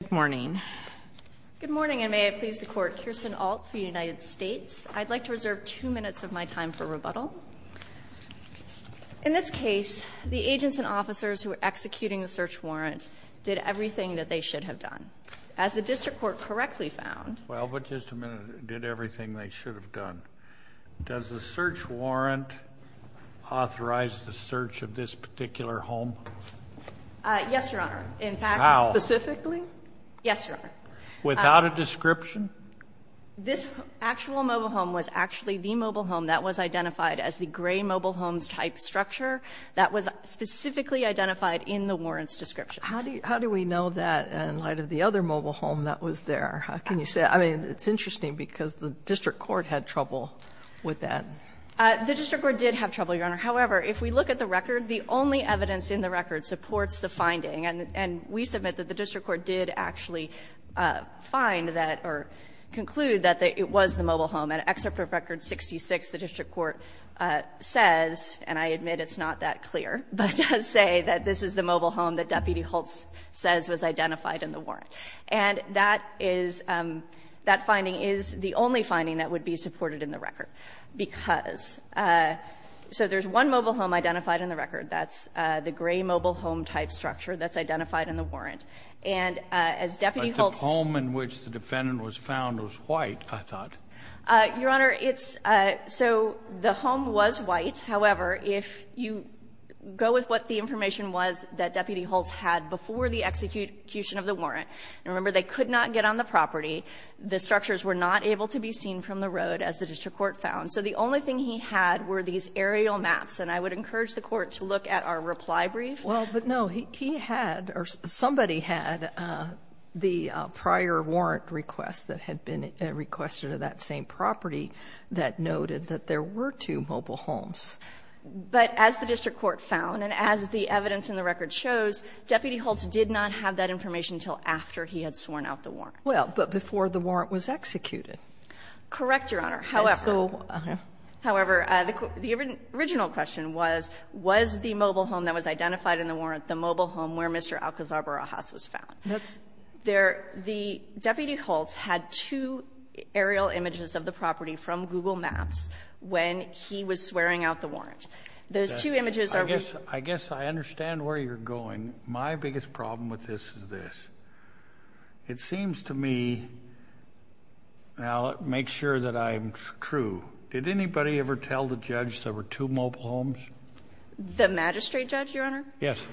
Good morning and may it please the Court, Kirsten Ault for the United States. I'd like to reserve two minutes of my time for rebuttal. In this case, the agents and officers who were executing the search warrant did everything that they should have done. As the District Court correctly found... Well, but just a minute, did everything they should have done. Does the search warrant authorize the search of this particular home? Yes, Your Honor. In fact, specifically? Yes, Your Honor. Without a description? This actual mobile home was actually the mobile home that was identified as the gray mobile homes type structure that was specifically identified in the warrant's description. How do we know that in light of the other mobile home that was there? Can you say that? I mean, it's interesting because the District Court had trouble with that. The District Court did have trouble, Your Honor. However, if we look at the record, the only evidence in the record supports the finding, and we submit that the District Court did actually find that or conclude that it was the mobile home. In Excerpt Proof Record 66, the District Court says, and I admit it's not that clear, but does say that this is the mobile home that Deputy Holtz says was identified in the warrant. And that is, that finding is the only finding that would be supported in the record because, so there's one mobile home identified in the record, and the District Court says that's the gray mobile home type structure that's identified in the warrant. And as Deputy Holtz ---- But the home in which the defendant was found was white, I thought. Your Honor, it's so the home was white. However, if you go with what the information was that Deputy Holtz had before the execution of the warrant, and remember, they could not get on the property, the structures were not able to be seen from the road as the District Court found. So the only thing he had were these aerial maps, and I would encourage the Court to look at our reply brief. Well, but, no, he had, or somebody had the prior warrant request that had been requested of that same property that noted that there were two mobile homes. But as the District Court found, and as the evidence in the record shows, Deputy Holtz did not have that information until after he had sworn out the warrant. Well, but before the warrant was executed. Correct, Your Honor. However ---- And so ---- However, the original question was, was the mobile home that was identified in the warrant the mobile home where Mr. Alcazar Barajas was found? That's ---- The Deputy Holtz had two aerial images of the property from Google Maps when he was swearing out the warrant. Those two images are ---- I guess I understand where you're going. My biggest problem with this is this. It seems to me, and I'll make sure that I'm true, did anybody ever tell the judge there were two mobile homes? The magistrate judge, Your Honor? Yes.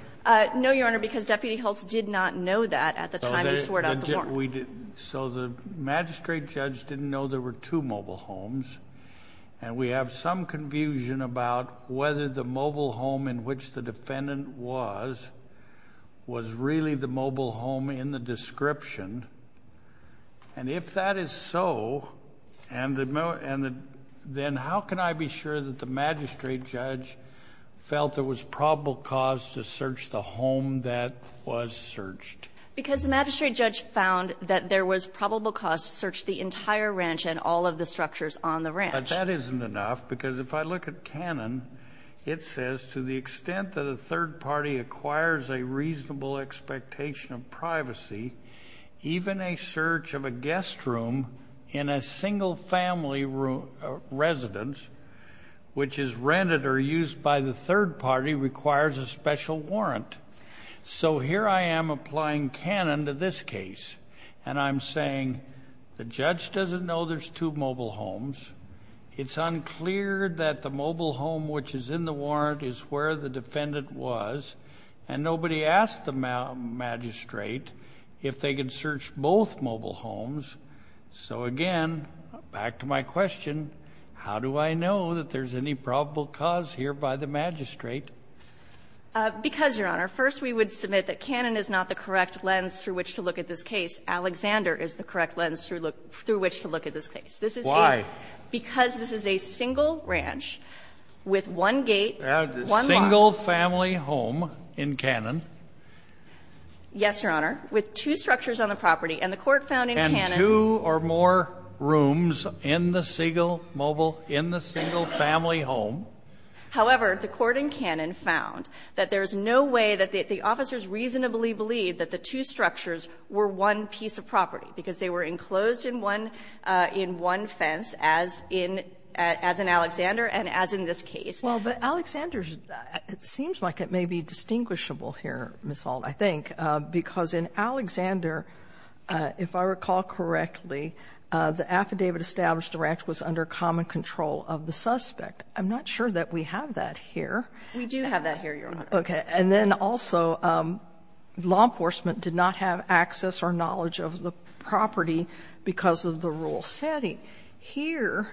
No, Your Honor, because Deputy Holtz did not know that at the time he swore out the warrant. So the magistrate judge didn't know there were two mobile homes, and we have some confusion about whether the mobile home in which the defendant was, was really the mobile home in the description. And if that is so, and the, then how can I be sure that the magistrate judge felt there was probable cause to search the home that was searched? Because the magistrate judge found that there was probable cause to search the entire ranch and all of the structures on the ranch. But that isn't enough, because if I look at canon, it says to the extent that a search of a guest room in a single-family residence, which is rented or used by the third party, requires a special warrant. So here I am applying canon to this case, and I'm saying the judge doesn't know there's two mobile homes. It's unclear that the mobile home which is in the warrant is where the defendant was, and nobody asked the magistrate if they could search both mobile homes. So, again, back to my question, how do I know that there's any probable cause here by the magistrate? Because, Your Honor, first we would submit that canon is not the correct lens through which to look at this case. Alexander is the correct lens through which to look at this case. Because this is a single ranch with one gate, one lot. Kennedy. And this is a single family home in canon. Yes, Your Honor. With two structures on the property, and the Court found in canon. Two or more rooms in the single mobile, in the single family home. However, the Court in canon found that there's no way that the officers reasonably believe that the two structures were one piece of property, because they were enclosed in one fence, as in Alexander and as in this case. Well, but Alexander's, it seems like it may be distinguishable here, Ms. Alt, I think. Because in Alexander, if I recall correctly, the affidavit established the ranch was under common control of the suspect. I'm not sure that we have that here. We do have that here, Your Honor. Okay. And then also, law enforcement did not have access or knowledge of the property because of the rule setting. Here,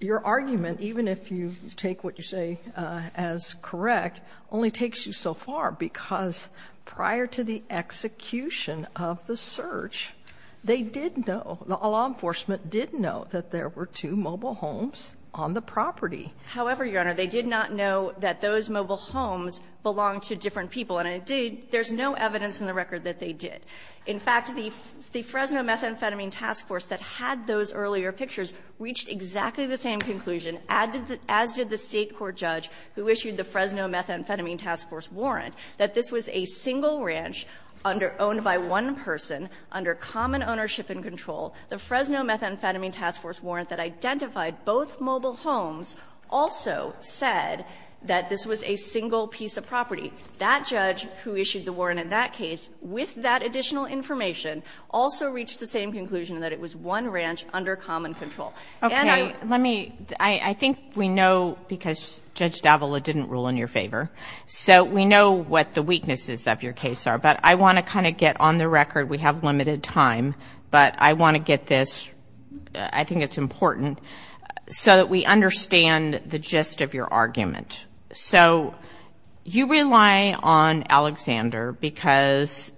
your argument, even if you take what you say as correct, only takes you so far, because prior to the execution of the search, they did know, law enforcement did know that there were two mobile homes on the property. However, Your Honor, they did not know that those mobile homes belonged to different people, and indeed, there's no evidence in the record that they did. In fact, the Fresno Methamphetamine Task Force that had those earlier pictures reached exactly the same conclusion, as did the State court judge who issued the Fresno Methamphetamine Task Force warrant, that this was a single ranch under owned by one person under common ownership and control. The Fresno Methamphetamine Task Force warrant that identified both mobile homes also said that this was a single piece of property. That judge who issued the warrant in that case, with that additional information, also reached the same conclusion that it was one ranch under common control. And I think we know, because Judge D'Avola didn't rule in your favor, so we know what the weaknesses of your case are, but I want to kind of get on the record, we have limited time, but I want to get this, I think it's important, so that we understand the gist of your argument. So, you rely on Alexander because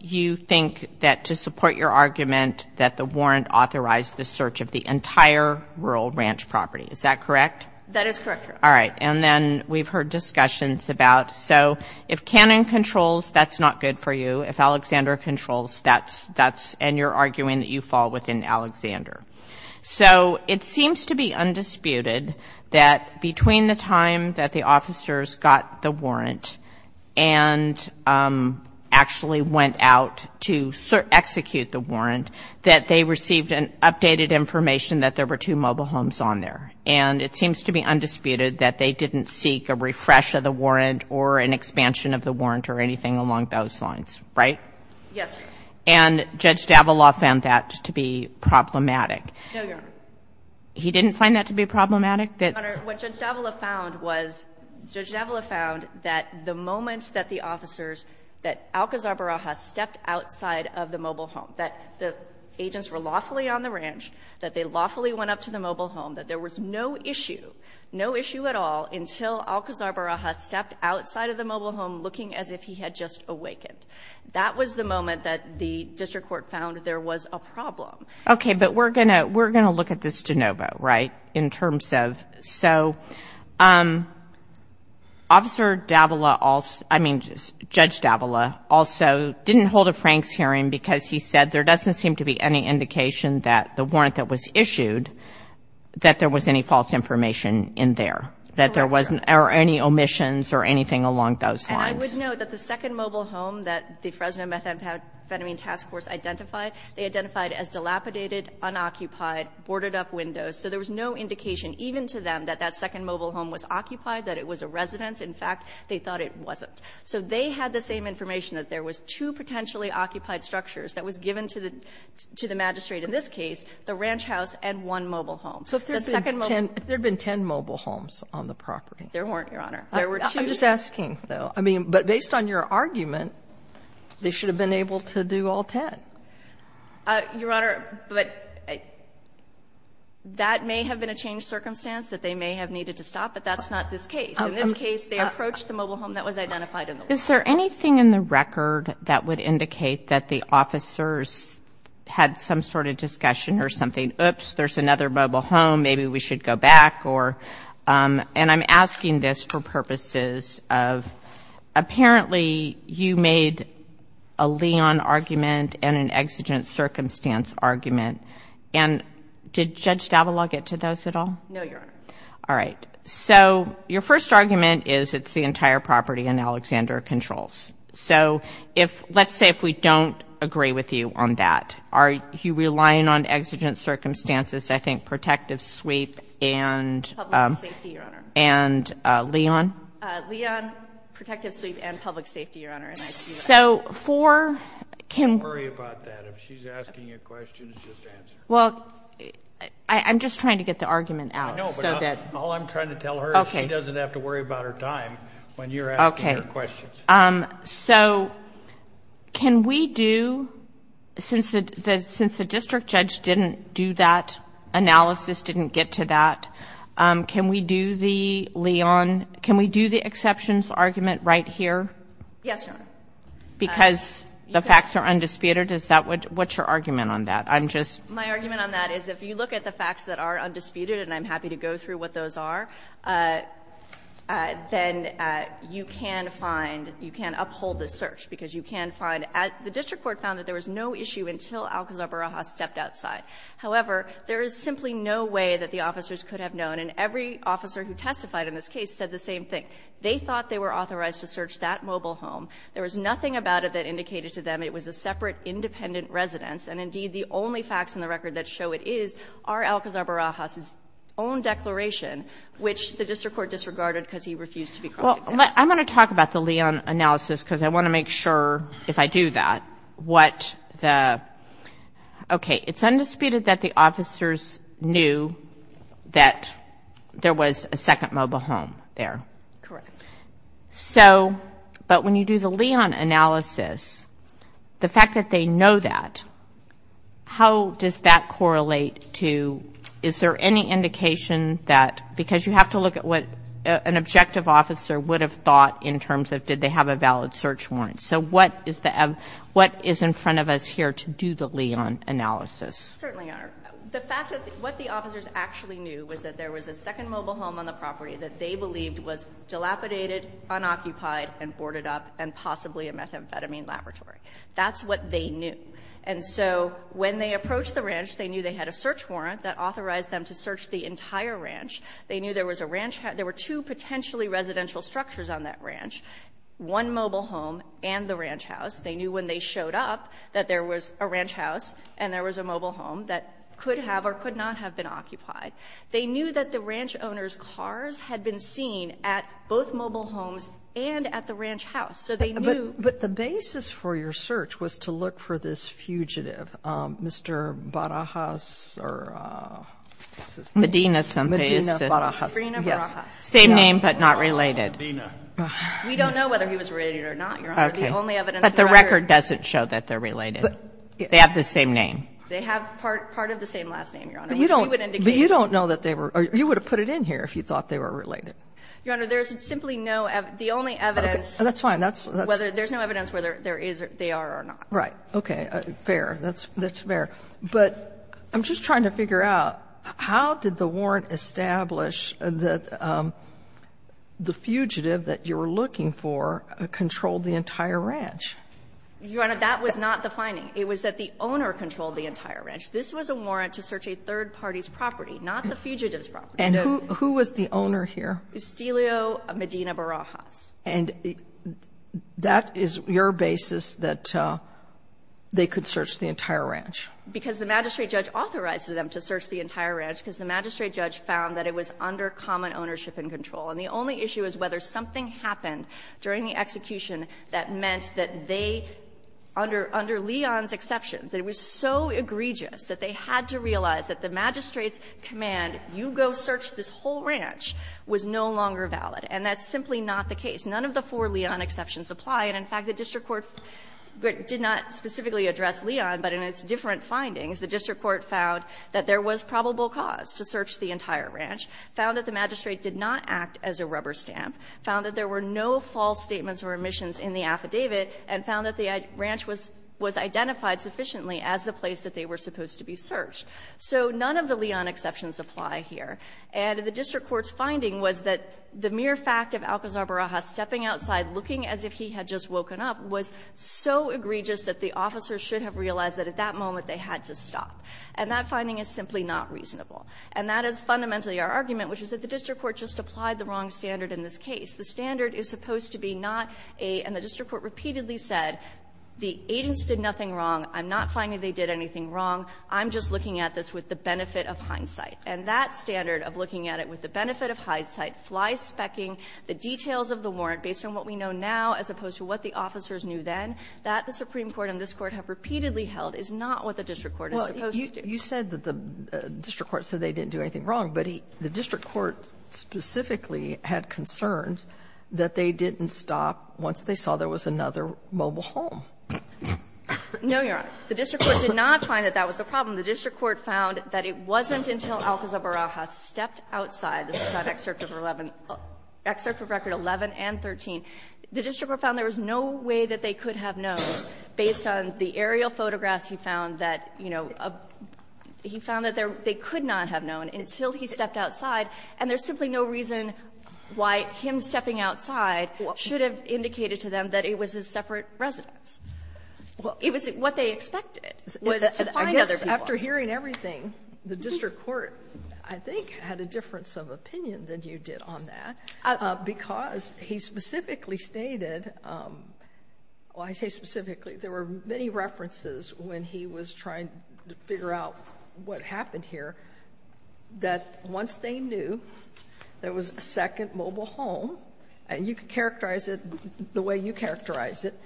you think that to support your argument that the warrant authorized the search of the entire rural ranch property, is that correct? That is correct, Your Honor. All right, and then we've heard discussions about, so, if Cannon controls, that's not good for you. If Alexander controls, that's, and you're arguing that you fall within Alexander. So, it seems to be undisputed that between the time that the officers got the warrant and actually went out to execute the warrant, that they received an updated information that there were two mobile homes on there. And it seems to be undisputed that they didn't seek a refresh of the warrant or an expansion of the warrant or anything along those lines, right? Yes, Your Honor. And Judge d'Avila found that to be problematic. No, Your Honor. He didn't find that to be problematic? Your Honor, what Judge d'Avila found was, Judge d'Avila found that the moment that the officers, that Alcazar Barajas stepped outside of the mobile home, that the agents were lawfully on the ranch, that they lawfully went up to the mobile home, that there was no issue, no issue at all until Alcazar Barajas stepped outside of the mobile home looking as if he had just awakened. That was the moment that the district court found there was a problem. Okay. But we're going to look at this de novo, right? In terms of, so, Officer d'Avila also, I mean, Judge d'Avila also didn't hold a Franks hearing because he said there doesn't seem to be any indication that the warrant that was issued, that there was any false information in there, that there wasn't any omissions or anything along those lines. I would note that the second mobile home that the Fresno Methamphetamine Task Force identified, they identified as dilapidated, unoccupied, boarded up windows. So there was no indication, even to them, that that second mobile home was occupied, that it was a residence. In fact, they thought it wasn't. So they had the same information, that there was two potentially occupied structures that was given to the magistrate, in this case, the ranch house and one mobile home. So if there had been ten mobile homes on the property? There weren't, Your Honor. There were two. I'm just asking, though, I mean, but based on your argument, they should have been able to do all ten. Your Honor, but that may have been a changed circumstance that they may have needed to stop, but that's not this case. In this case, they approached the mobile home that was identified in the warrant. Is there anything in the record that would indicate that the officers had some sort of discussion or something? Oops, there's another mobile home, maybe we should go back or – and I'm asking this for purposes of, apparently, you made a Leon argument and an exigent circumstance argument, and did Judge d'Avila get to those at all? No, Your Honor. All right. So your first argument is it's the entire property in Alexander Controls. So if, let's say if we don't agree with you on that, are you relying on exigent Public safety, Your Honor. And Leon? Leon, protective sleep and public safety, Your Honor. So for – Don't worry about that. If she's asking you questions, just answer. Well, I'm just trying to get the argument out. I know, but all I'm trying to tell her is she doesn't have to worry about her time when you're asking her questions. So can we do, since the district judge didn't do that analysis, didn't get to that, can we do the Leon – can we do the exceptions argument right here? Yes, Your Honor. Because the facts are undisputed? Is that what – what's your argument on that? I'm just – My argument on that is if you look at the facts that are undisputed, and I'm happy to go through what those are, then you can find – you can uphold the search, because you can find – the district court found that there was no issue until Alcazar Barajas stepped outside. However, there is simply no way that the officers could have known, and every officer who testified in this case said the same thing. They thought they were authorized to search that mobile home. There was nothing about it that indicated to them it was a separate, independent residence. And indeed, the only facts in the record that show it is are Alcazar Barajas's own declaration, which the district court disregarded because he refused to be cross-examined. Well, I'm going to talk about the Leon analysis because I want to make sure, if I do that, what the – okay, it's undisputed that the officers knew that there was a second mobile home there. Correct. So – but when you do the Leon analysis, the fact that they know that, how does that correlate to – is there any indication that – because you have to look at what an objective officer would have thought in terms of did they have a valid search warrant. So what is the – what is in front of us here to do the Leon analysis? Certainly, Your Honor. The fact that what the officers actually knew was that there was a second mobile home on the property that they believed was dilapidated, unoccupied, and boarded up, and possibly a methamphetamine laboratory. That's what they knew. And so when they approached the ranch, they knew they had a search warrant that authorized them to search the entire ranch. They knew there was a ranch – there were two potentially residential structures on that ranch. One mobile home and the ranch house. They knew when they showed up that there was a ranch house and there was a mobile home that could have or could not have been occupied. They knew that the ranch owner's cars had been seen at both mobile homes and at the ranch house. So they knew – But the basis for your search was to look for this fugitive, Mr. Barajas or – Medina something. Medina Barajas. Medina Barajas. Yes. Same name, but not related. Medina. We don't know whether he was related or not, Your Honor. Okay. The only evidence that I heard – But the record doesn't show that they're related. They have the same name. They have part of the same last name, Your Honor. But you don't know that they were – you would have put it in here if you thought they were related. Your Honor, there's simply no – the only evidence – Okay. That's fine. That's – Whether – there's no evidence whether there is – they are or not. Right. Okay. Fair. That's fair. But I'm just trying to figure out, how did the warrant establish that the fugitive that you were looking for controlled the entire ranch? Your Honor, that was not the finding. It was that the owner controlled the entire ranch. This was a warrant to search a third party's property, not the fugitive's property. And who was the owner here? Estelio Medina Barajas. And that is your basis that they could search the entire ranch? Because the magistrate judge authorized them to search the entire ranch because the magistrate judge found that it was under common ownership and control. And the only issue is whether something happened during the execution that meant that they, under Leon's exceptions, that it was so egregious that they had to realize that the magistrate's command, you go search this whole ranch, was no longer valid. And that's simply not the case. None of the four Leon exceptions apply. And in fact, the district court did not specifically address Leon, but in its different findings, the district court found that there was probable cause to search the entire ranch, found that the magistrate did not act as a rubber stamp, found that there were no false statements or omissions in the affidavit, and found that the ranch was identified sufficiently as the place that they were supposed to be searched. So none of the Leon exceptions apply here. And the district court's finding was that the mere fact of Alcazar Barajas stepping outside, looking as if he had just woken up, was so egregious that the officer should have realized that at that moment they had to stop. And that finding is simply not reasonable. And that is fundamentally our argument, which is that the district court just applied the wrong standard in this case. The standard is supposed to be not a --" and the district court repeatedly said, the agents did nothing wrong, I'm not finding they did anything wrong, I'm just looking at this with the benefit of hindsight. And that standard of looking at it with the benefit of hindsight, fly-spec-ing the details of the warrant based on what we know now as opposed to what the officers knew then, that the Supreme Court and this Court have repeatedly held, is not what the district court is supposed to do. Sotomayor, you said that the district court said they didn't do anything wrong, but the district court specifically had concerns that they didn't stop once they saw there was another mobile home. No, Your Honor. The district court did not find that that was the problem. The district court found that it wasn't until Alcazar Barajas stepped outside the site, excerpt of 11 --" excerpt of record 11 and 13. The district court found there was no way that they could have known, based on the aerial photographs he found, that, you know, he found that they could not have known until he stepped outside, and there's simply no reason why him stepping outside should have indicated to them that it was a separate residence. It was what they expected, was to find other people. I guess, after hearing everything, the district court, I think, had a difference of opinion than you did on that, because he specifically stated, well, I say specifically, there were many references when he was trying to figure out what happened here, that once they knew there was a second mobile home, and you could characterize it the way you characterize it,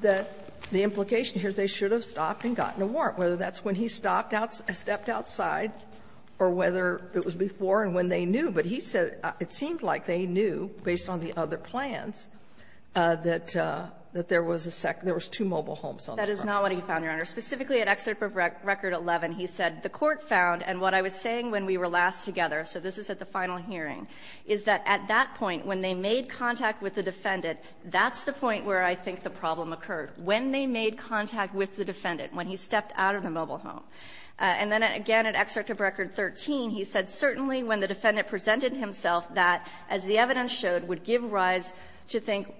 that the implication here is they should have stopped and gotten a warrant, whether that's when he stopped outside or whether it was before and when they knew. But he said it seemed like they knew, based on the other plans, that there was a second --" there was two mobile homes on the property. Sherryman-Hillman, that is not what he found, Your Honor. Specifically, at excerpt of record 11, he said, the court found, and what I was saying when we were last together, so this is at the final hearing, is that at that point, when they made contact with the defendant, that's the point where I think the problem occurred. When they made contact with the defendant, when he stepped out of the mobile home. And then again, at excerpt of record 13, he said, certainly when the defendant presented himself, that, as the evidence showed, would give rise to think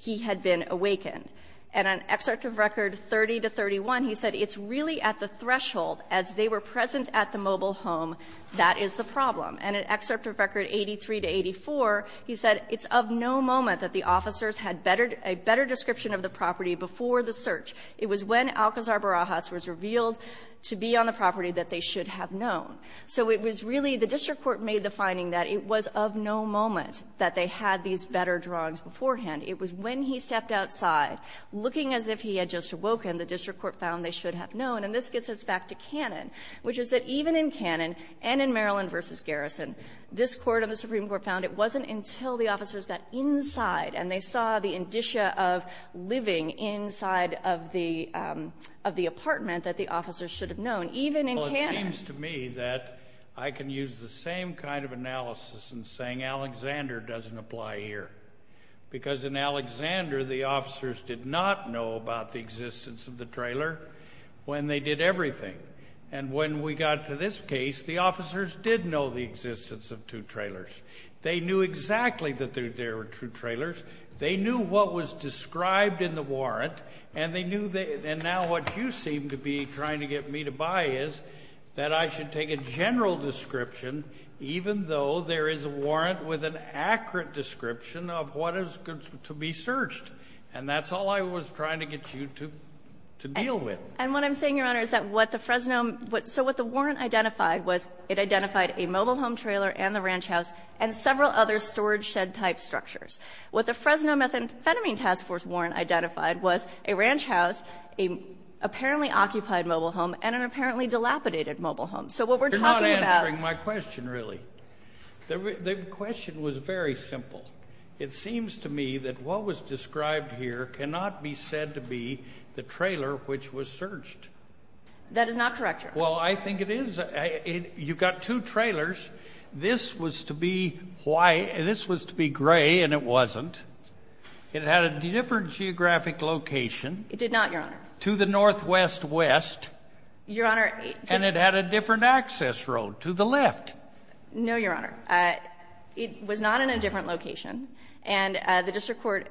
he had been awakened. And on excerpt of record 30 to 31, he said, it's really at the threshold, as they were present at the mobile home, that is the problem. And at excerpt of record 83 to 84, he said, it's of no moment that the officers had better --" a better description of the property before the search. It was when Alcazar Barajas was revealed to be on the property that they should have known. So it was really the district court made the finding that it was of no moment that they had these better drawings beforehand. It was when he stepped outside, looking as if he had just awoken, the district court found they should have known. And this gets us back to Cannon, which is that even in Cannon and in Maryland v. Garrison, this Court and the Supreme Court found it wasn't until the officers got inside and they saw the indicia of living inside of the apartment that the officers should have known, even in Cannon. Well, it seems to me that I can use the same kind of analysis in saying Alexander doesn't apply here. Because in Alexander, the officers did not know about the existence of the trailer when they did everything. And when we got to this case, the officers did know the existence of two trailers. They knew exactly that there were two trailers. They knew what was described in the warrant. And they knew that now what you seem to be trying to get me to buy is that I should take a general description, even though there is a warrant with an accurate description of what is to be searched. And that's all I was trying to get you to deal with. And what I'm saying, Your Honor, is that what the Fresno — so what the warrant identified was it identified a mobile home trailer and the ranch house and several other storage shed type structures. What the Fresno Methamphetamine Task Force warrant identified was a ranch house, a apparently occupied mobile home, and an apparently dilapidated mobile home. So what we're talking about — You're not answering my question, really. The question was very simple. It seems to me that what was described here cannot be said to be the trailer which was searched. That is not correct, Your Honor. Well, I think it is. You've got two trailers. This was to be Hawaii — this was to be gray, and it wasn't. It had a different geographic location. It did not, Your Honor. To the northwest west. Your Honor — And it had a different access road to the left. No, Your Honor. It was not in a different location. And the district court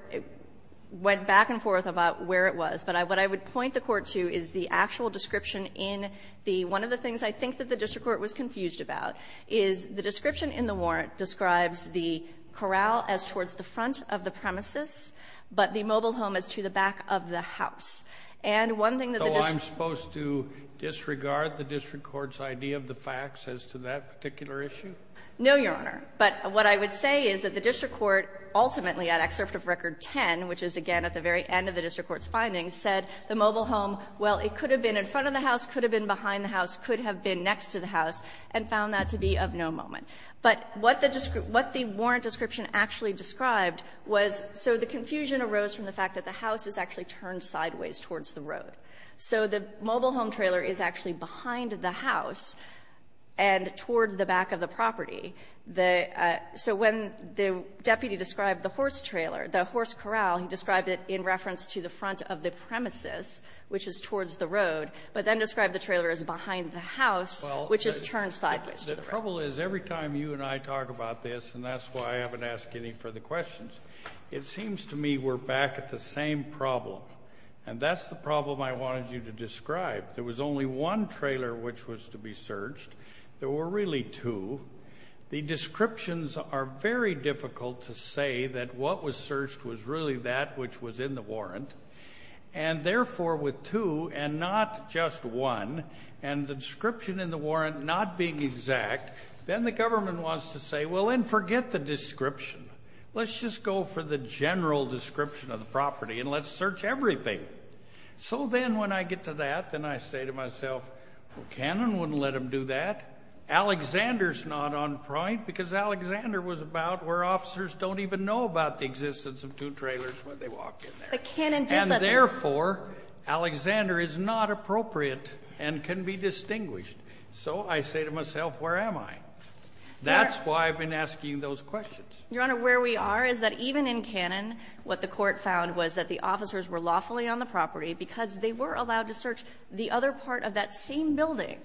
went back and forth about where it was. But what I would point the Court to is the actual description in the — one of the things I think that the district court was confused about is the description in the warrant describes the corral as towards the front of the premises, but the mobile home as to the back of the house. And one thing that the district — So I'm supposed to disregard the district court's idea of the facts as to that particular issue? No, Your Honor. But what I would say is that the district court ultimately, at excerpt of Record 10, which is, again, at the very end of the district court's findings, said the mobile home, well, it could have been in front of the house, could have been behind the house, could have been next to the house, and found that to be of no moment. But what the warrant description actually described was — so the confusion arose from the fact that the house is actually turned sideways towards the road. So the mobile home trailer is actually behind the house and toward the back of the property. The — so when the deputy described the horse trailer, the horse corral, he described it in reference to the front of the premises, which is towards the road, but then described the trailer as behind the house, which is turned sideways to the road. Well, the trouble is, every time you and I talk about this, and that's why I haven't asked any further questions, it seems to me we're back at the same problem. And that's the problem I wanted you to describe. There was only one trailer which was to be searched. There were really two. The descriptions are very difficult to say that what was searched was really that which was in the warrant. And therefore, with two and not just one, and the description in the warrant not being exact, then the government wants to say, well, then forget the description. Let's just go for the general description of the property and let's search everything. So then when I get to that, then I say to myself, well, Cannon wouldn't let him do that. Alexander's not on point, because Alexander was about where officers don't even know about the existence of two trailers when they walk in there. But Cannon did let — And therefore, Alexander is not appropriate and can be distinguished. So I say to myself, where am I? That's why I've been asking those questions. Your Honor, where we are is that even in Cannon, what the court found was that the trailers on the property, because they were allowed to search the other part of that same building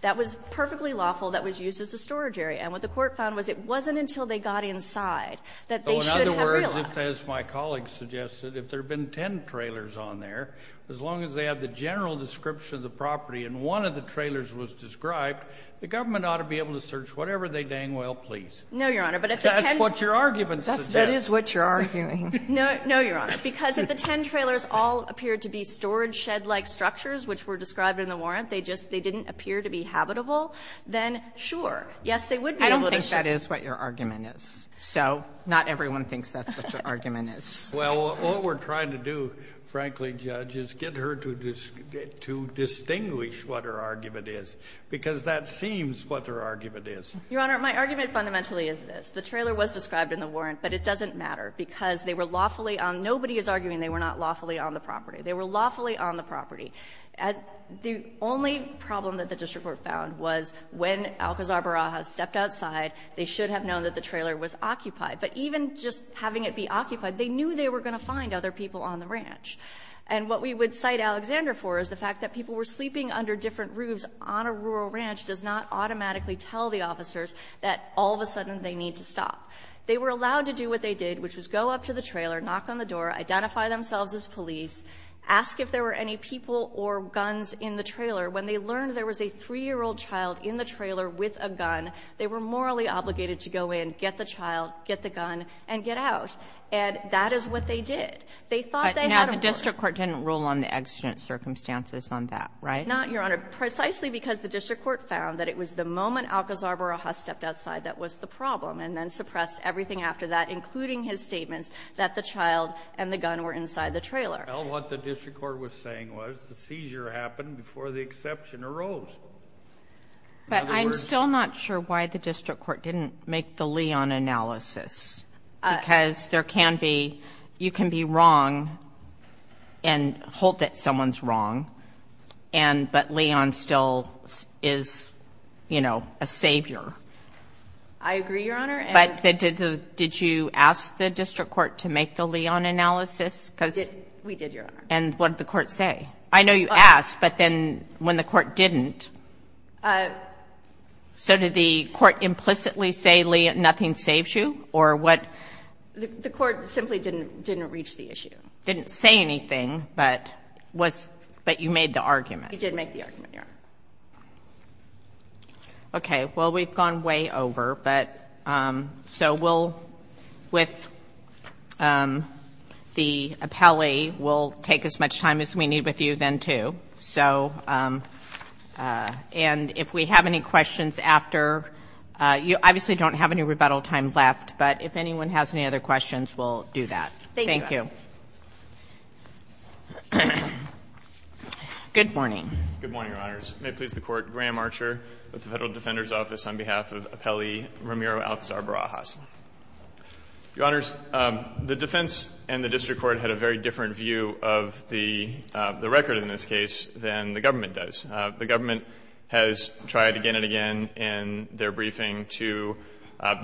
that was perfectly lawful, that was used as a storage area. And what the court found was it wasn't until they got inside that they should have realized. Oh, in other words, as my colleague suggested, if there had been ten trailers on there, as long as they had the general description of the property and one of the trailers was described, the government ought to be able to search whatever they dang well pleased. No, Your Honor, but if the ten — That's what your argument suggests. That is what you're arguing. No, Your Honor, because if the ten trailers all appeared to be storage shed-like structures, which were described in the warrant, they just — they didn't appear to be habitable, then sure, yes, they would be able to search. I don't think that is what your argument is. So not everyone thinks that's what your argument is. Well, what we're trying to do, frankly, Judge, is get her to distinguish what her argument is, because that seems what her argument is. Your Honor, my argument fundamentally is this. The trailer was described in the warrant, but it doesn't matter, because they were lawfully on — nobody is arguing they were not lawfully on the property. They were lawfully on the property. As the only problem that the district court found was when Alcazar Barajas stepped outside, they should have known that the trailer was occupied. But even just having it be occupied, they knew they were going to find other people on the ranch. And what we would cite Alexander for is the fact that people were sleeping under different roofs on a rural ranch does not automatically tell the officers that all of a sudden they need to stop. They were allowed to do what they did, which was go up to the trailer, knock on the door, identify themselves as police, ask if there were any people or guns in the trailer. When they learned there was a 3-year-old child in the trailer with a gun, they were morally obligated to go in, get the child, get the gun, and get out. And that is what they did. They thought they had a — But now the district court didn't rule on the accident circumstances on that, right? Not, Your Honor. Precisely because the district court found that it was the moment Alcazar Barajas stepped outside that was the problem, and then suppressed everything after that, including his statements that the child and the gun were inside the trailer. Well, what the district court was saying was the seizure happened before the exception arose. In other words — But I'm still not sure why the district court didn't make the Leon analysis. Because there can be — you can be wrong and hope that someone's wrong, and — but I agree, Your Honor. But did you ask the district court to make the Leon analysis? Because — We did, Your Honor. And what did the court say? I know you asked, but then when the court didn't — so did the court implicitly say, nothing saves you? Or what — The court simply didn't reach the issue. Didn't say anything, but was — but you made the argument. We did make the argument, Your Honor. Okay. Well, we've gone way over, but — so we'll — with the appellee, we'll take as much time as we need with you then, too. So — and if we have any questions after — you obviously don't have any rebuttal time left, but if anyone has any other questions, we'll do that. Thank you. Thank you. Good morning. Good morning, Your Honors. May it please the Court, Graham Archer with the Federal Defender's Office on behalf of Appellee Ramiro Alcazar Barajas. Your Honors, the defense and the district court had a very different view of the — the record in this case than the government does. The government has tried again and again in their briefing to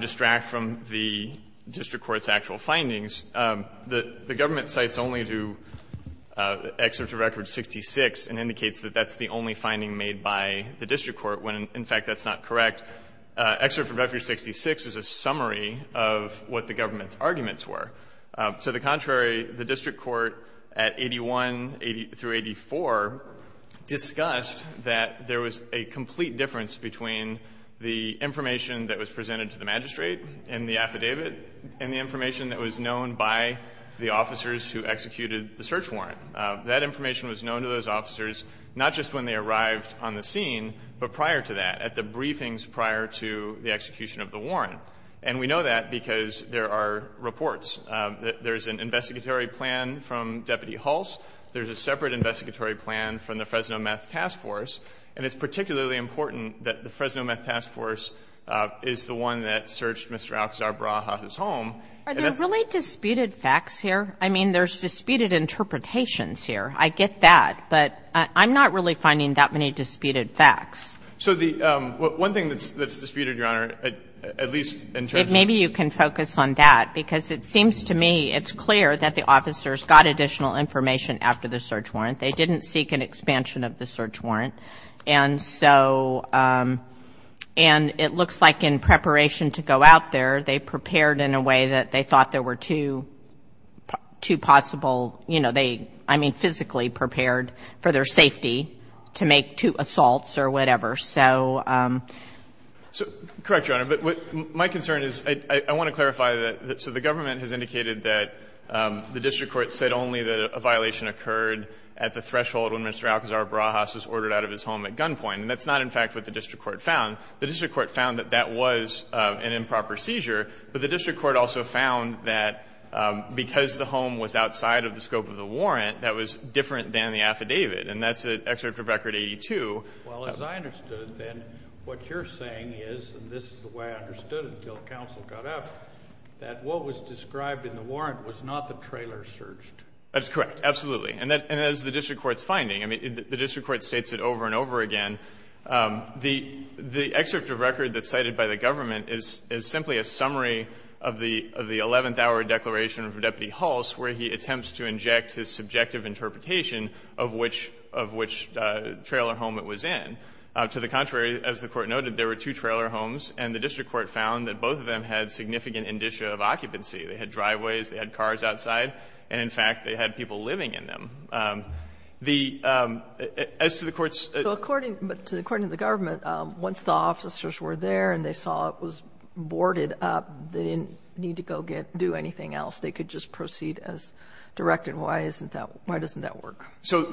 distract from the district court's actual findings. The government cites only to Excerpt to Record 66 and indicates that that's the only finding made by the district court when, in fact, that's not correct. Excerpt from Record 66 is a summary of what the government's arguments were. So the contrary, the district court at 81 through 84 discussed that there was a complete difference between the information that was presented to the magistrate in the affidavit and the information that was known by the officers who executed the search warrant. That information was known to those officers not just when they arrived on the scene, but prior to that, at the briefings prior to the execution of the warrant. And we know that because there are reports. There's an investigatory plan from Deputy Hulse. There's a separate investigatory plan from the Fresno Meth Task Force. And it's particularly important that the Fresno Meth Task Force is the one that searched Mr. Alcazar Barajas' home. And that's the reason why the district court's argument was that there was a complete And so there are disputed interpretations here. I get that. But I'm not really finding that many disputed facts. So the one thing that's disputed, Your Honor, at least in terms of the ---- Maybe you can focus on that, because it seems to me it's clear that the officers got additional information after the search warrant. They didn't seek an expansion of the search warrant. And so ---- And it looks like in preparation to go out there, they prepared in a way that they thought there were two possible, you know, they, I mean, physically prepared for their safety to make two assaults or whatever. So ---- Correct, Your Honor. But my concern is I want to clarify that so the government has indicated that the district court said only that a violation occurred at the threshold when Mr. Alcazar Barajas was ordered out of his home at gunpoint. And that's not, in fact, what the district court found. The district court found that that was an improper seizure, but the district court also found that because the home was outside of the scope of the warrant, that was different than the affidavit. And that's at Excerpt of Record 82. Well, as I understood, then, what you're saying is, and this is the way I understood it until the counsel got up, that what was described in the warrant was not the trailer home that was surged. That's correct, absolutely. And that's the district court's finding. I mean, the district court states it over and over again. The Excerpt of Record that's cited by the government is simply a summary of the Eleventh Hour Declaration from Deputy Hulse, where he attempts to inject his subjective interpretation of which trailer home it was in. To the contrary, as the Court noted, there were two trailer homes, and the district court found that both of them had significant indicia of occupancy. They had driveways, they had cars outside. And in fact, they had people living in them. The — as to the Court's — So according — but according to the government, once the officers were there and they saw it was boarded up, they didn't need to go get — do anything else. They could just proceed as directed. Why isn't that — why doesn't that work? So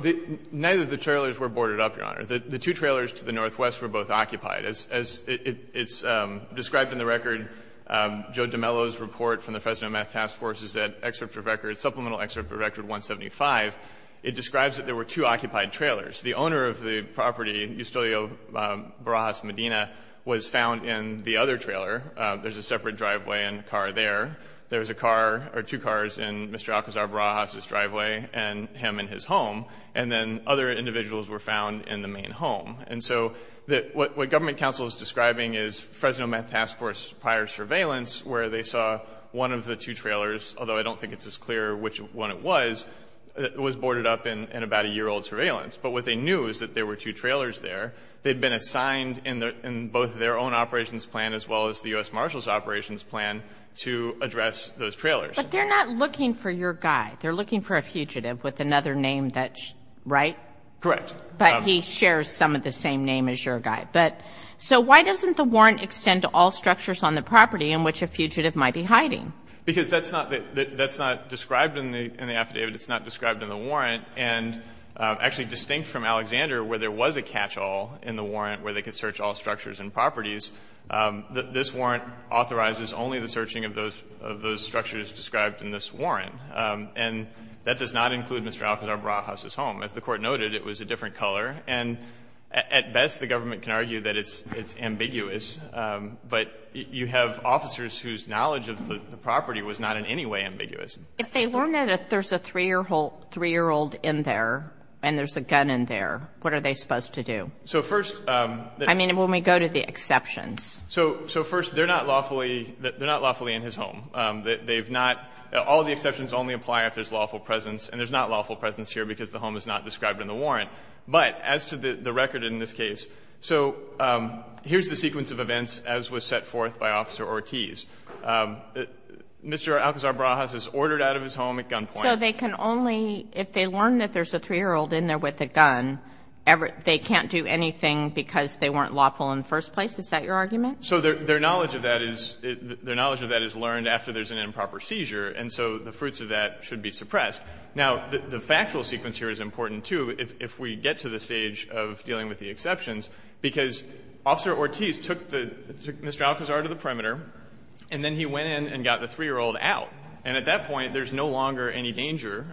neither of the trailers were boarded up, Your Honor. The two trailers to the northwest were both occupied. As it's described in the record, Joe DeMello's report from the Fresno Math Task Force is that excerpt of record — supplemental excerpt of record 175, it describes that there were two occupied trailers. The owner of the property, Eustelio Barajas Medina, was found in the other trailer. There's a separate driveway and car there. There's a car — or two cars in Mr. Alcazar Barajas's driveway and him in his home. And then other individuals were found in the main home. And so what government counsel is describing is Fresno Math Task Force prior surveillance where they saw one of the two trailers, although I don't think it's as clear which one it was, was boarded up in about a year-old surveillance. But what they knew is that there were two trailers there. They'd been assigned in both their own operations plan as well as the U.S. Marshal's operations plan to address those trailers. But they're not looking for your guy. They're looking for a fugitive with another name that's — right? Correct. But he shares some of the same name as your guy. But — so why doesn't the warrant extend to all structures on the property in which a fugitive might be hiding? Because that's not — that's not described in the affidavit. It's not described in the warrant. And actually distinct from Alexander, where there was a catch-all in the warrant where they could search all structures and properties, this warrant authorizes only the searching of those — of those structures described in this warrant. And that does not include Mr. Alcazar Barajas's home. As the Court noted, it was a different color. And at best, the government can argue that it's ambiguous. But you have officers whose knowledge of the property was not in any way ambiguous. If they learn that there's a 3-year-old in there and there's a gun in there, what are they supposed to do? So first — I mean, when we go to the exceptions. So first, they're not lawfully — they're not lawfully in his home. They've not — all the exceptions only apply if there's lawful presence. And there's not lawful presence here because the home is not described in the warrant. But as to the record in this case, so here's the sequence of events as was set forth by Officer Ortiz. Mr. Alcazar Barajas is ordered out of his home at gunpoint. So they can only — if they learn that there's a 3-year-old in there with a gun, they can't do anything because they weren't lawful in the first place? Is that your argument? So their knowledge of that is — their knowledge of that is learned after there's an improper seizure. And so the fruits of that should be suppressed. Now, the factual sequence here is important, too. If we get to the stage of dealing with the exceptions, because Officer Ortiz took the — took Mr. Alcazar to the perimeter, and then he went in and got the 3-year-old out. And at that point, there's no longer any danger.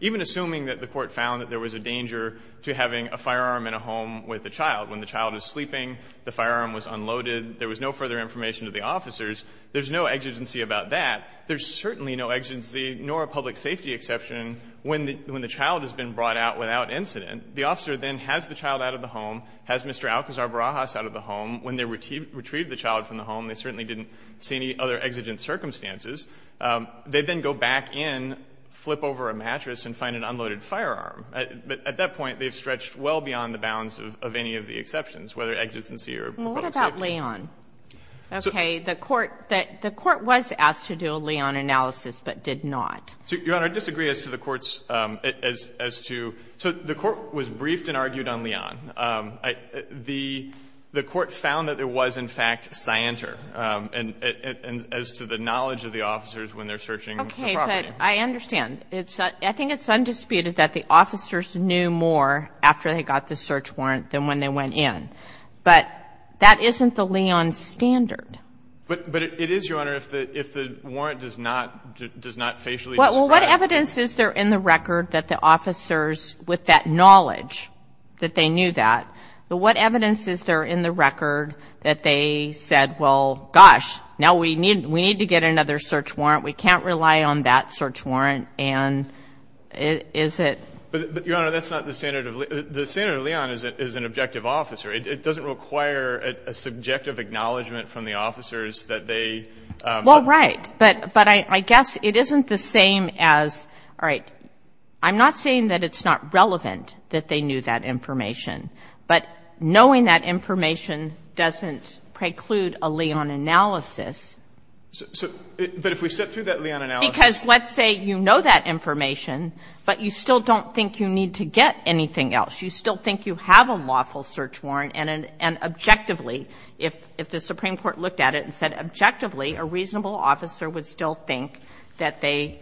Even assuming that the Court found that there was a danger to having a firearm in a home with a child, when the child is sleeping, the firearm was unloaded, there was no further information to the officers, there's no exigency about that. There's certainly no exigency, nor a public safety exception, when the child has been brought out without incident. The officer then has the child out of the home, has Mr. Alcazar Barajas out of the home. When they retrieved the child from the home, they certainly didn't see any other exigent circumstances. They then go back in, flip over a mattress, and find an unloaded firearm. At that point, they've stretched well beyond the bounds of any of the exceptions, whether exigency or public safety. And in the case of the Leon, it's not Leon, okay? The court was asked to do a Leon analysis but did not. Your Honor, I disagree as to the Court's as to the Court was briefed and argued on Leon. The Court found that there was, in fact, Scienter, and as to the knowledge of the officer when they're searching the property. Okay. But I understand. I think it's undisputed that the officers knew more after they got the search warrant than when they went in. But that isn't the Leon standard. But it is, Your Honor, if the warrant does not facially describe it. Well, what evidence is there in the record that the officers, with that knowledge that they knew that, but what evidence is there in the record that they said, well, gosh, now we need to get another search warrant, we can't rely on that search warrant, and is it? But, Your Honor, that's not the standard of Leon. The standard of Leon is an objective officer. It doesn't require a subjective acknowledgment from the officers that they. Well, right. But I guess it isn't the same as, all right, I'm not saying that it's not relevant that they knew that information, but knowing that information doesn't preclude a Leon analysis. So, but if we step through that Leon analysis. Because let's say you know that information, but you still don't think you need to get anything else. You still think you have a lawful search warrant, and objectively, if the Supreme Court looked at it and said objectively, a reasonable officer would still think that they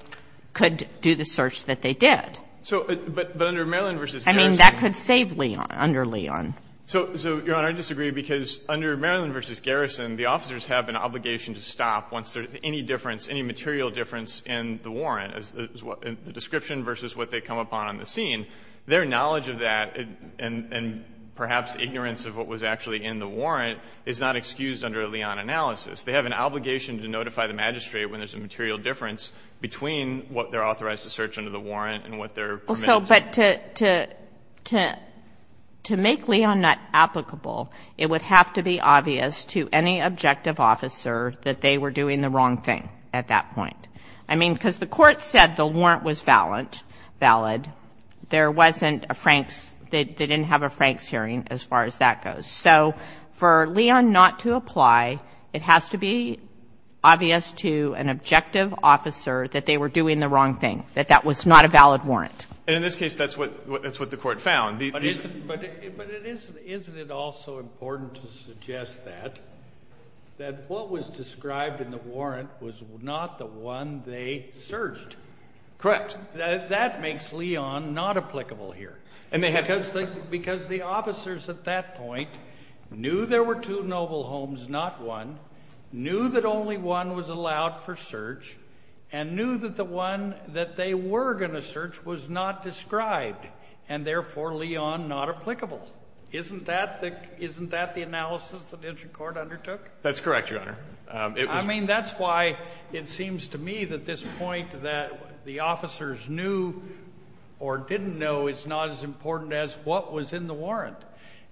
could do the search that they did. So, but under Maryland v. Garrison. I mean, that could save Leon, under Leon. So, Your Honor, I disagree, because under Maryland v. Garrison, the officers have an obligation to stop once there's any difference, any material difference in the warrant, the description versus what they come upon on the scene. Their knowledge of that and perhaps ignorance of what was actually in the warrant is not excused under a Leon analysis. They have an obligation to notify the magistrate when there's a material difference between what they're authorized to search under the warrant and what they're permitted to do. So, but to make Leon not applicable, it would have to be obvious to any objective officer that they were doing the wrong thing at that point. I mean, because the Court said the warrant was valid, there wasn't a Franks – they didn't have a Franks hearing as far as that goes. So for Leon not to apply, it has to be obvious to an objective officer that they were doing the wrong thing, that that was not a valid warrant. And in this case, that's what the Court found. But isn't it also important to suggest that, that what was described in the warrant was not the one they searched? Correct. That makes Leon not applicable here. And they had to – Because the officers at that point knew there were two noble homes, not one, knew that only one was allowed for search, and knew that the one that they were going to search was not described, and therefore Leon not applicable. Isn't that the analysis that Insure Court undertook? That's correct, Your Honor. I mean, that's why it seems to me that this point that the officers knew or didn't know is not as important as what was in the warrant.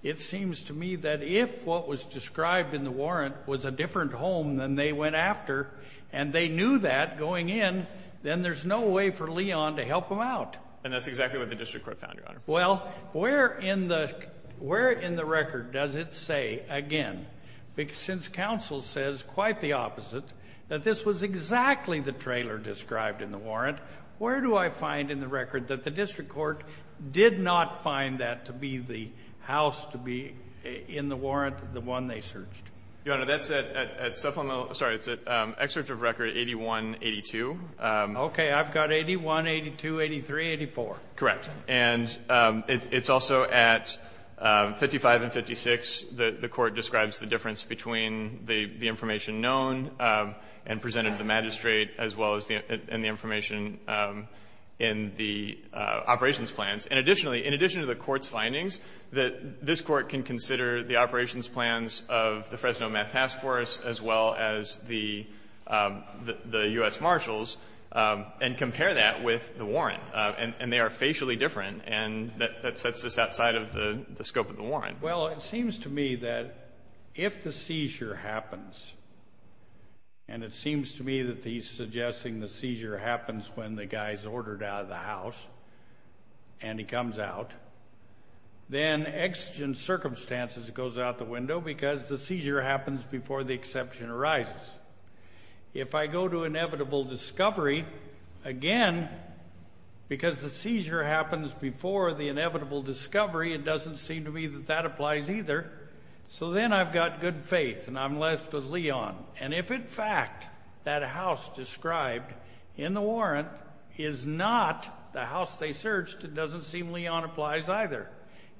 It seems to me that if what was described in the warrant was a different home than they went after, and they knew that going in, then there's no way for Leon to help them out. And that's exactly what the District Court found, Your Honor. Well, where in the record does it say, again, since counsel says, quite the opposite, that this was exactly the trailer described in the warrant, where do I find in the record that the District Court did not find that to be the house to be in the warrant, the one they searched? Your Honor, that's at supplemental – sorry, it's at excerpt of record 8182. Okay. I've got 8182, 8384. Correct. And it's also at 55 and 56 that the court describes the difference between the information known and presented to the magistrate, as well as the information in the operations plans. And additionally, in addition to the court's findings, this court can consider the operations plans of the Fresno Meth Task Force as well as the U.S. Marshals and compare that with the warrant. And they are facially different, and that sets us outside of the scope of the warrant. Well, it seems to me that if the seizure happens, and it seems to me that he's suggesting the seizure happens when the guy's ordered out of the house and he comes out, then exigent circumstances goes out the window because the seizure happens before the exception arises. If I go to inevitable discovery, again, because the seizure happens before the exception arises, then I've got good faith, and I'm left with Leon. And if, in fact, that house described in the warrant is not the house they searched, it doesn't seem Leon applies either.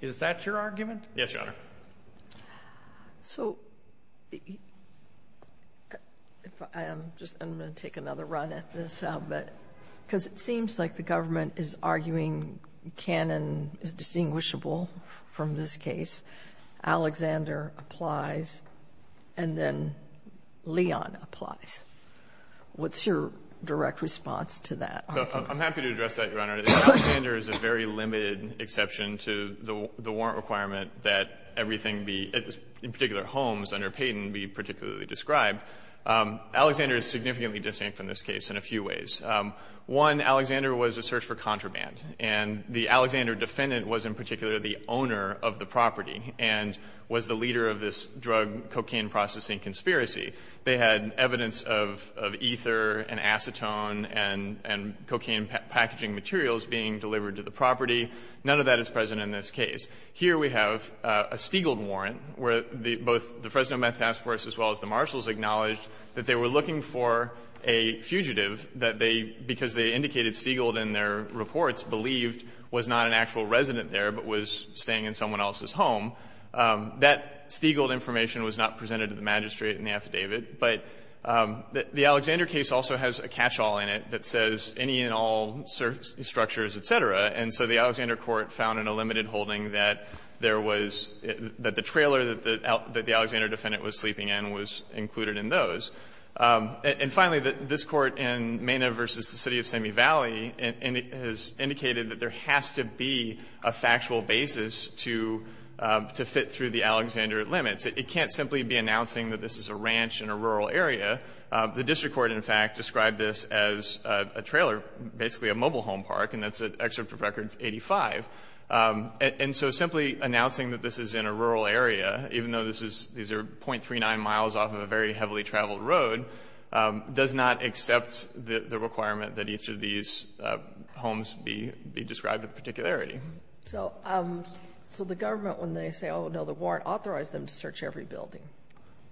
Is that your argument? Yes, Your Honor. So if I am just going to take another run at this, because it seems like the first case, Alexander applies, and then Leon applies, what's your direct response to that argument? I'm happy to address that, Your Honor. Alexander is a very limited exception to the warrant requirement that everything be, in particular, homes under Payton be particularly described. Alexander is significantly distinct from this case in a few ways. One, Alexander was a search for contraband, and the Alexander defendant was, in fact, the owner of the property and was the leader of this drug cocaine processing conspiracy. They had evidence of ether and acetone and cocaine packaging materials being delivered to the property. None of that is present in this case. Here we have a Stiegald warrant where both the Fresno Meth Task Force as well as the marshals acknowledged that they were looking for a fugitive that they, because they indicated Stiegald in their reports, believed was not an actual resident there, but was staying in someone else's home. That Stiegald information was not presented to the magistrate in the affidavit. But the Alexander case also has a catchall in it that says any and all search structures, et cetera. And so the Alexander court found in a limited holding that there was, that the trailer that the Alexander defendant was sleeping in was included in those. And finally, this Court in Mena v. City of Sammy Valley has indicated that there is no factual basis to fit through the Alexander limits. It can't simply be announcing that this is a ranch in a rural area. The district court, in fact, described this as a trailer, basically a mobile home park, and that's an excerpt from Record 85. And so simply announcing that this is in a rural area, even though this is, these are .39 miles off of a very heavily traveled road, does not accept the requirement that each of these homes be described with particularity. So the government, when they say, oh, no, the warrant authorized them to search every building.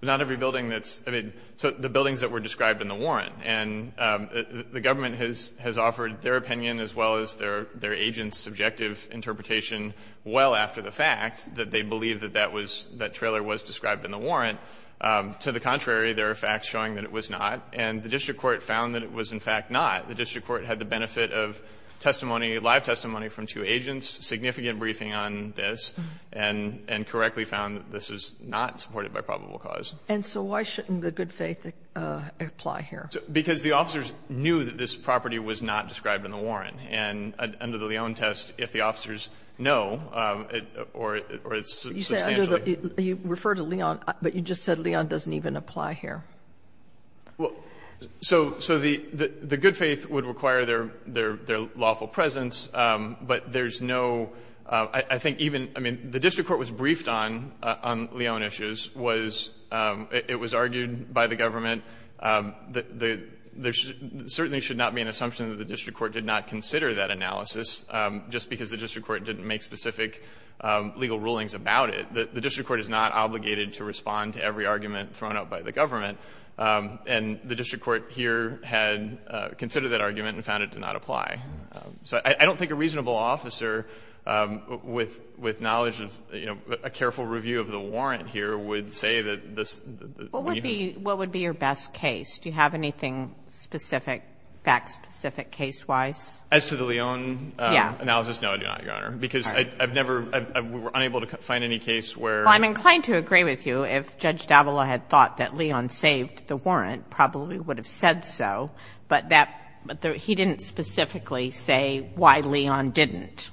Not every building that's, I mean, so the buildings that were described in the warrant. And the government has offered their opinion as well as their agent's subjective interpretation well after the fact that they believe that that was, that trailer was described in the warrant. To the contrary, there are facts showing that it was not. And the district court found that it was, in fact, not. The district court had the benefit of testimony, live testimony from two agents, significant briefing on this, and correctly found that this was not supported by probable cause. And so why shouldn't the good faith apply here? Because the officers knew that this property was not described in the warrant. And under the Leon test, if the officers know, or it's substantially. You said, you referred to Leon, but you just said Leon doesn't even apply here. Well, so the good faith would require their lawful presence, but there's no, I think even, I mean, the district court was briefed on Leon issues, was, it was argued by the government that there certainly should not be an assumption that the district court did not consider that analysis just because the district court didn't make specific legal rulings about it. The district court is not obligated to respond to every argument thrown out by the government. And the district court here had considered that argument and found it to not apply. So I don't think a reasonable officer with knowledge of, you know, a careful review of the warrant here would say that this. What would be your best case? Do you have anything specific, fact specific, case wise? As to the Leon analysis, no, I do not, Your Honor, because I've never, we were unable to find any case where. Well, I'm inclined to agree with you if Judge D'Avola had thought that Leon saved the warrant, probably would have said so, but that, he didn't specifically say why Leon didn't.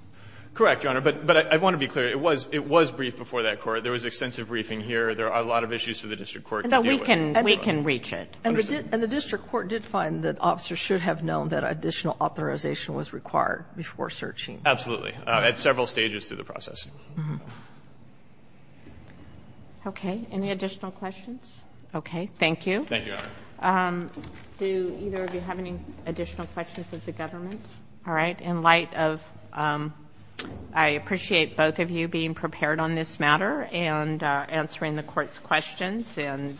Correct, Your Honor, but I want to be clear, it was, it was briefed before that court. There was extensive briefing here. There are a lot of issues for the district court to deal with. And we can, we can reach it. And the district court did find that officers should have known that additional authorization was required before searching. Absolutely, at several stages through the process. Okay. Any additional questions? Okay. Thank you. Thank you, Your Honor. Do either of you have any additional questions of the government? All right. In light of, I appreciate both of you being prepared on this matter and answering the court's questions. And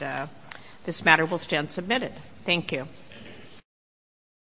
this matter will stand submitted.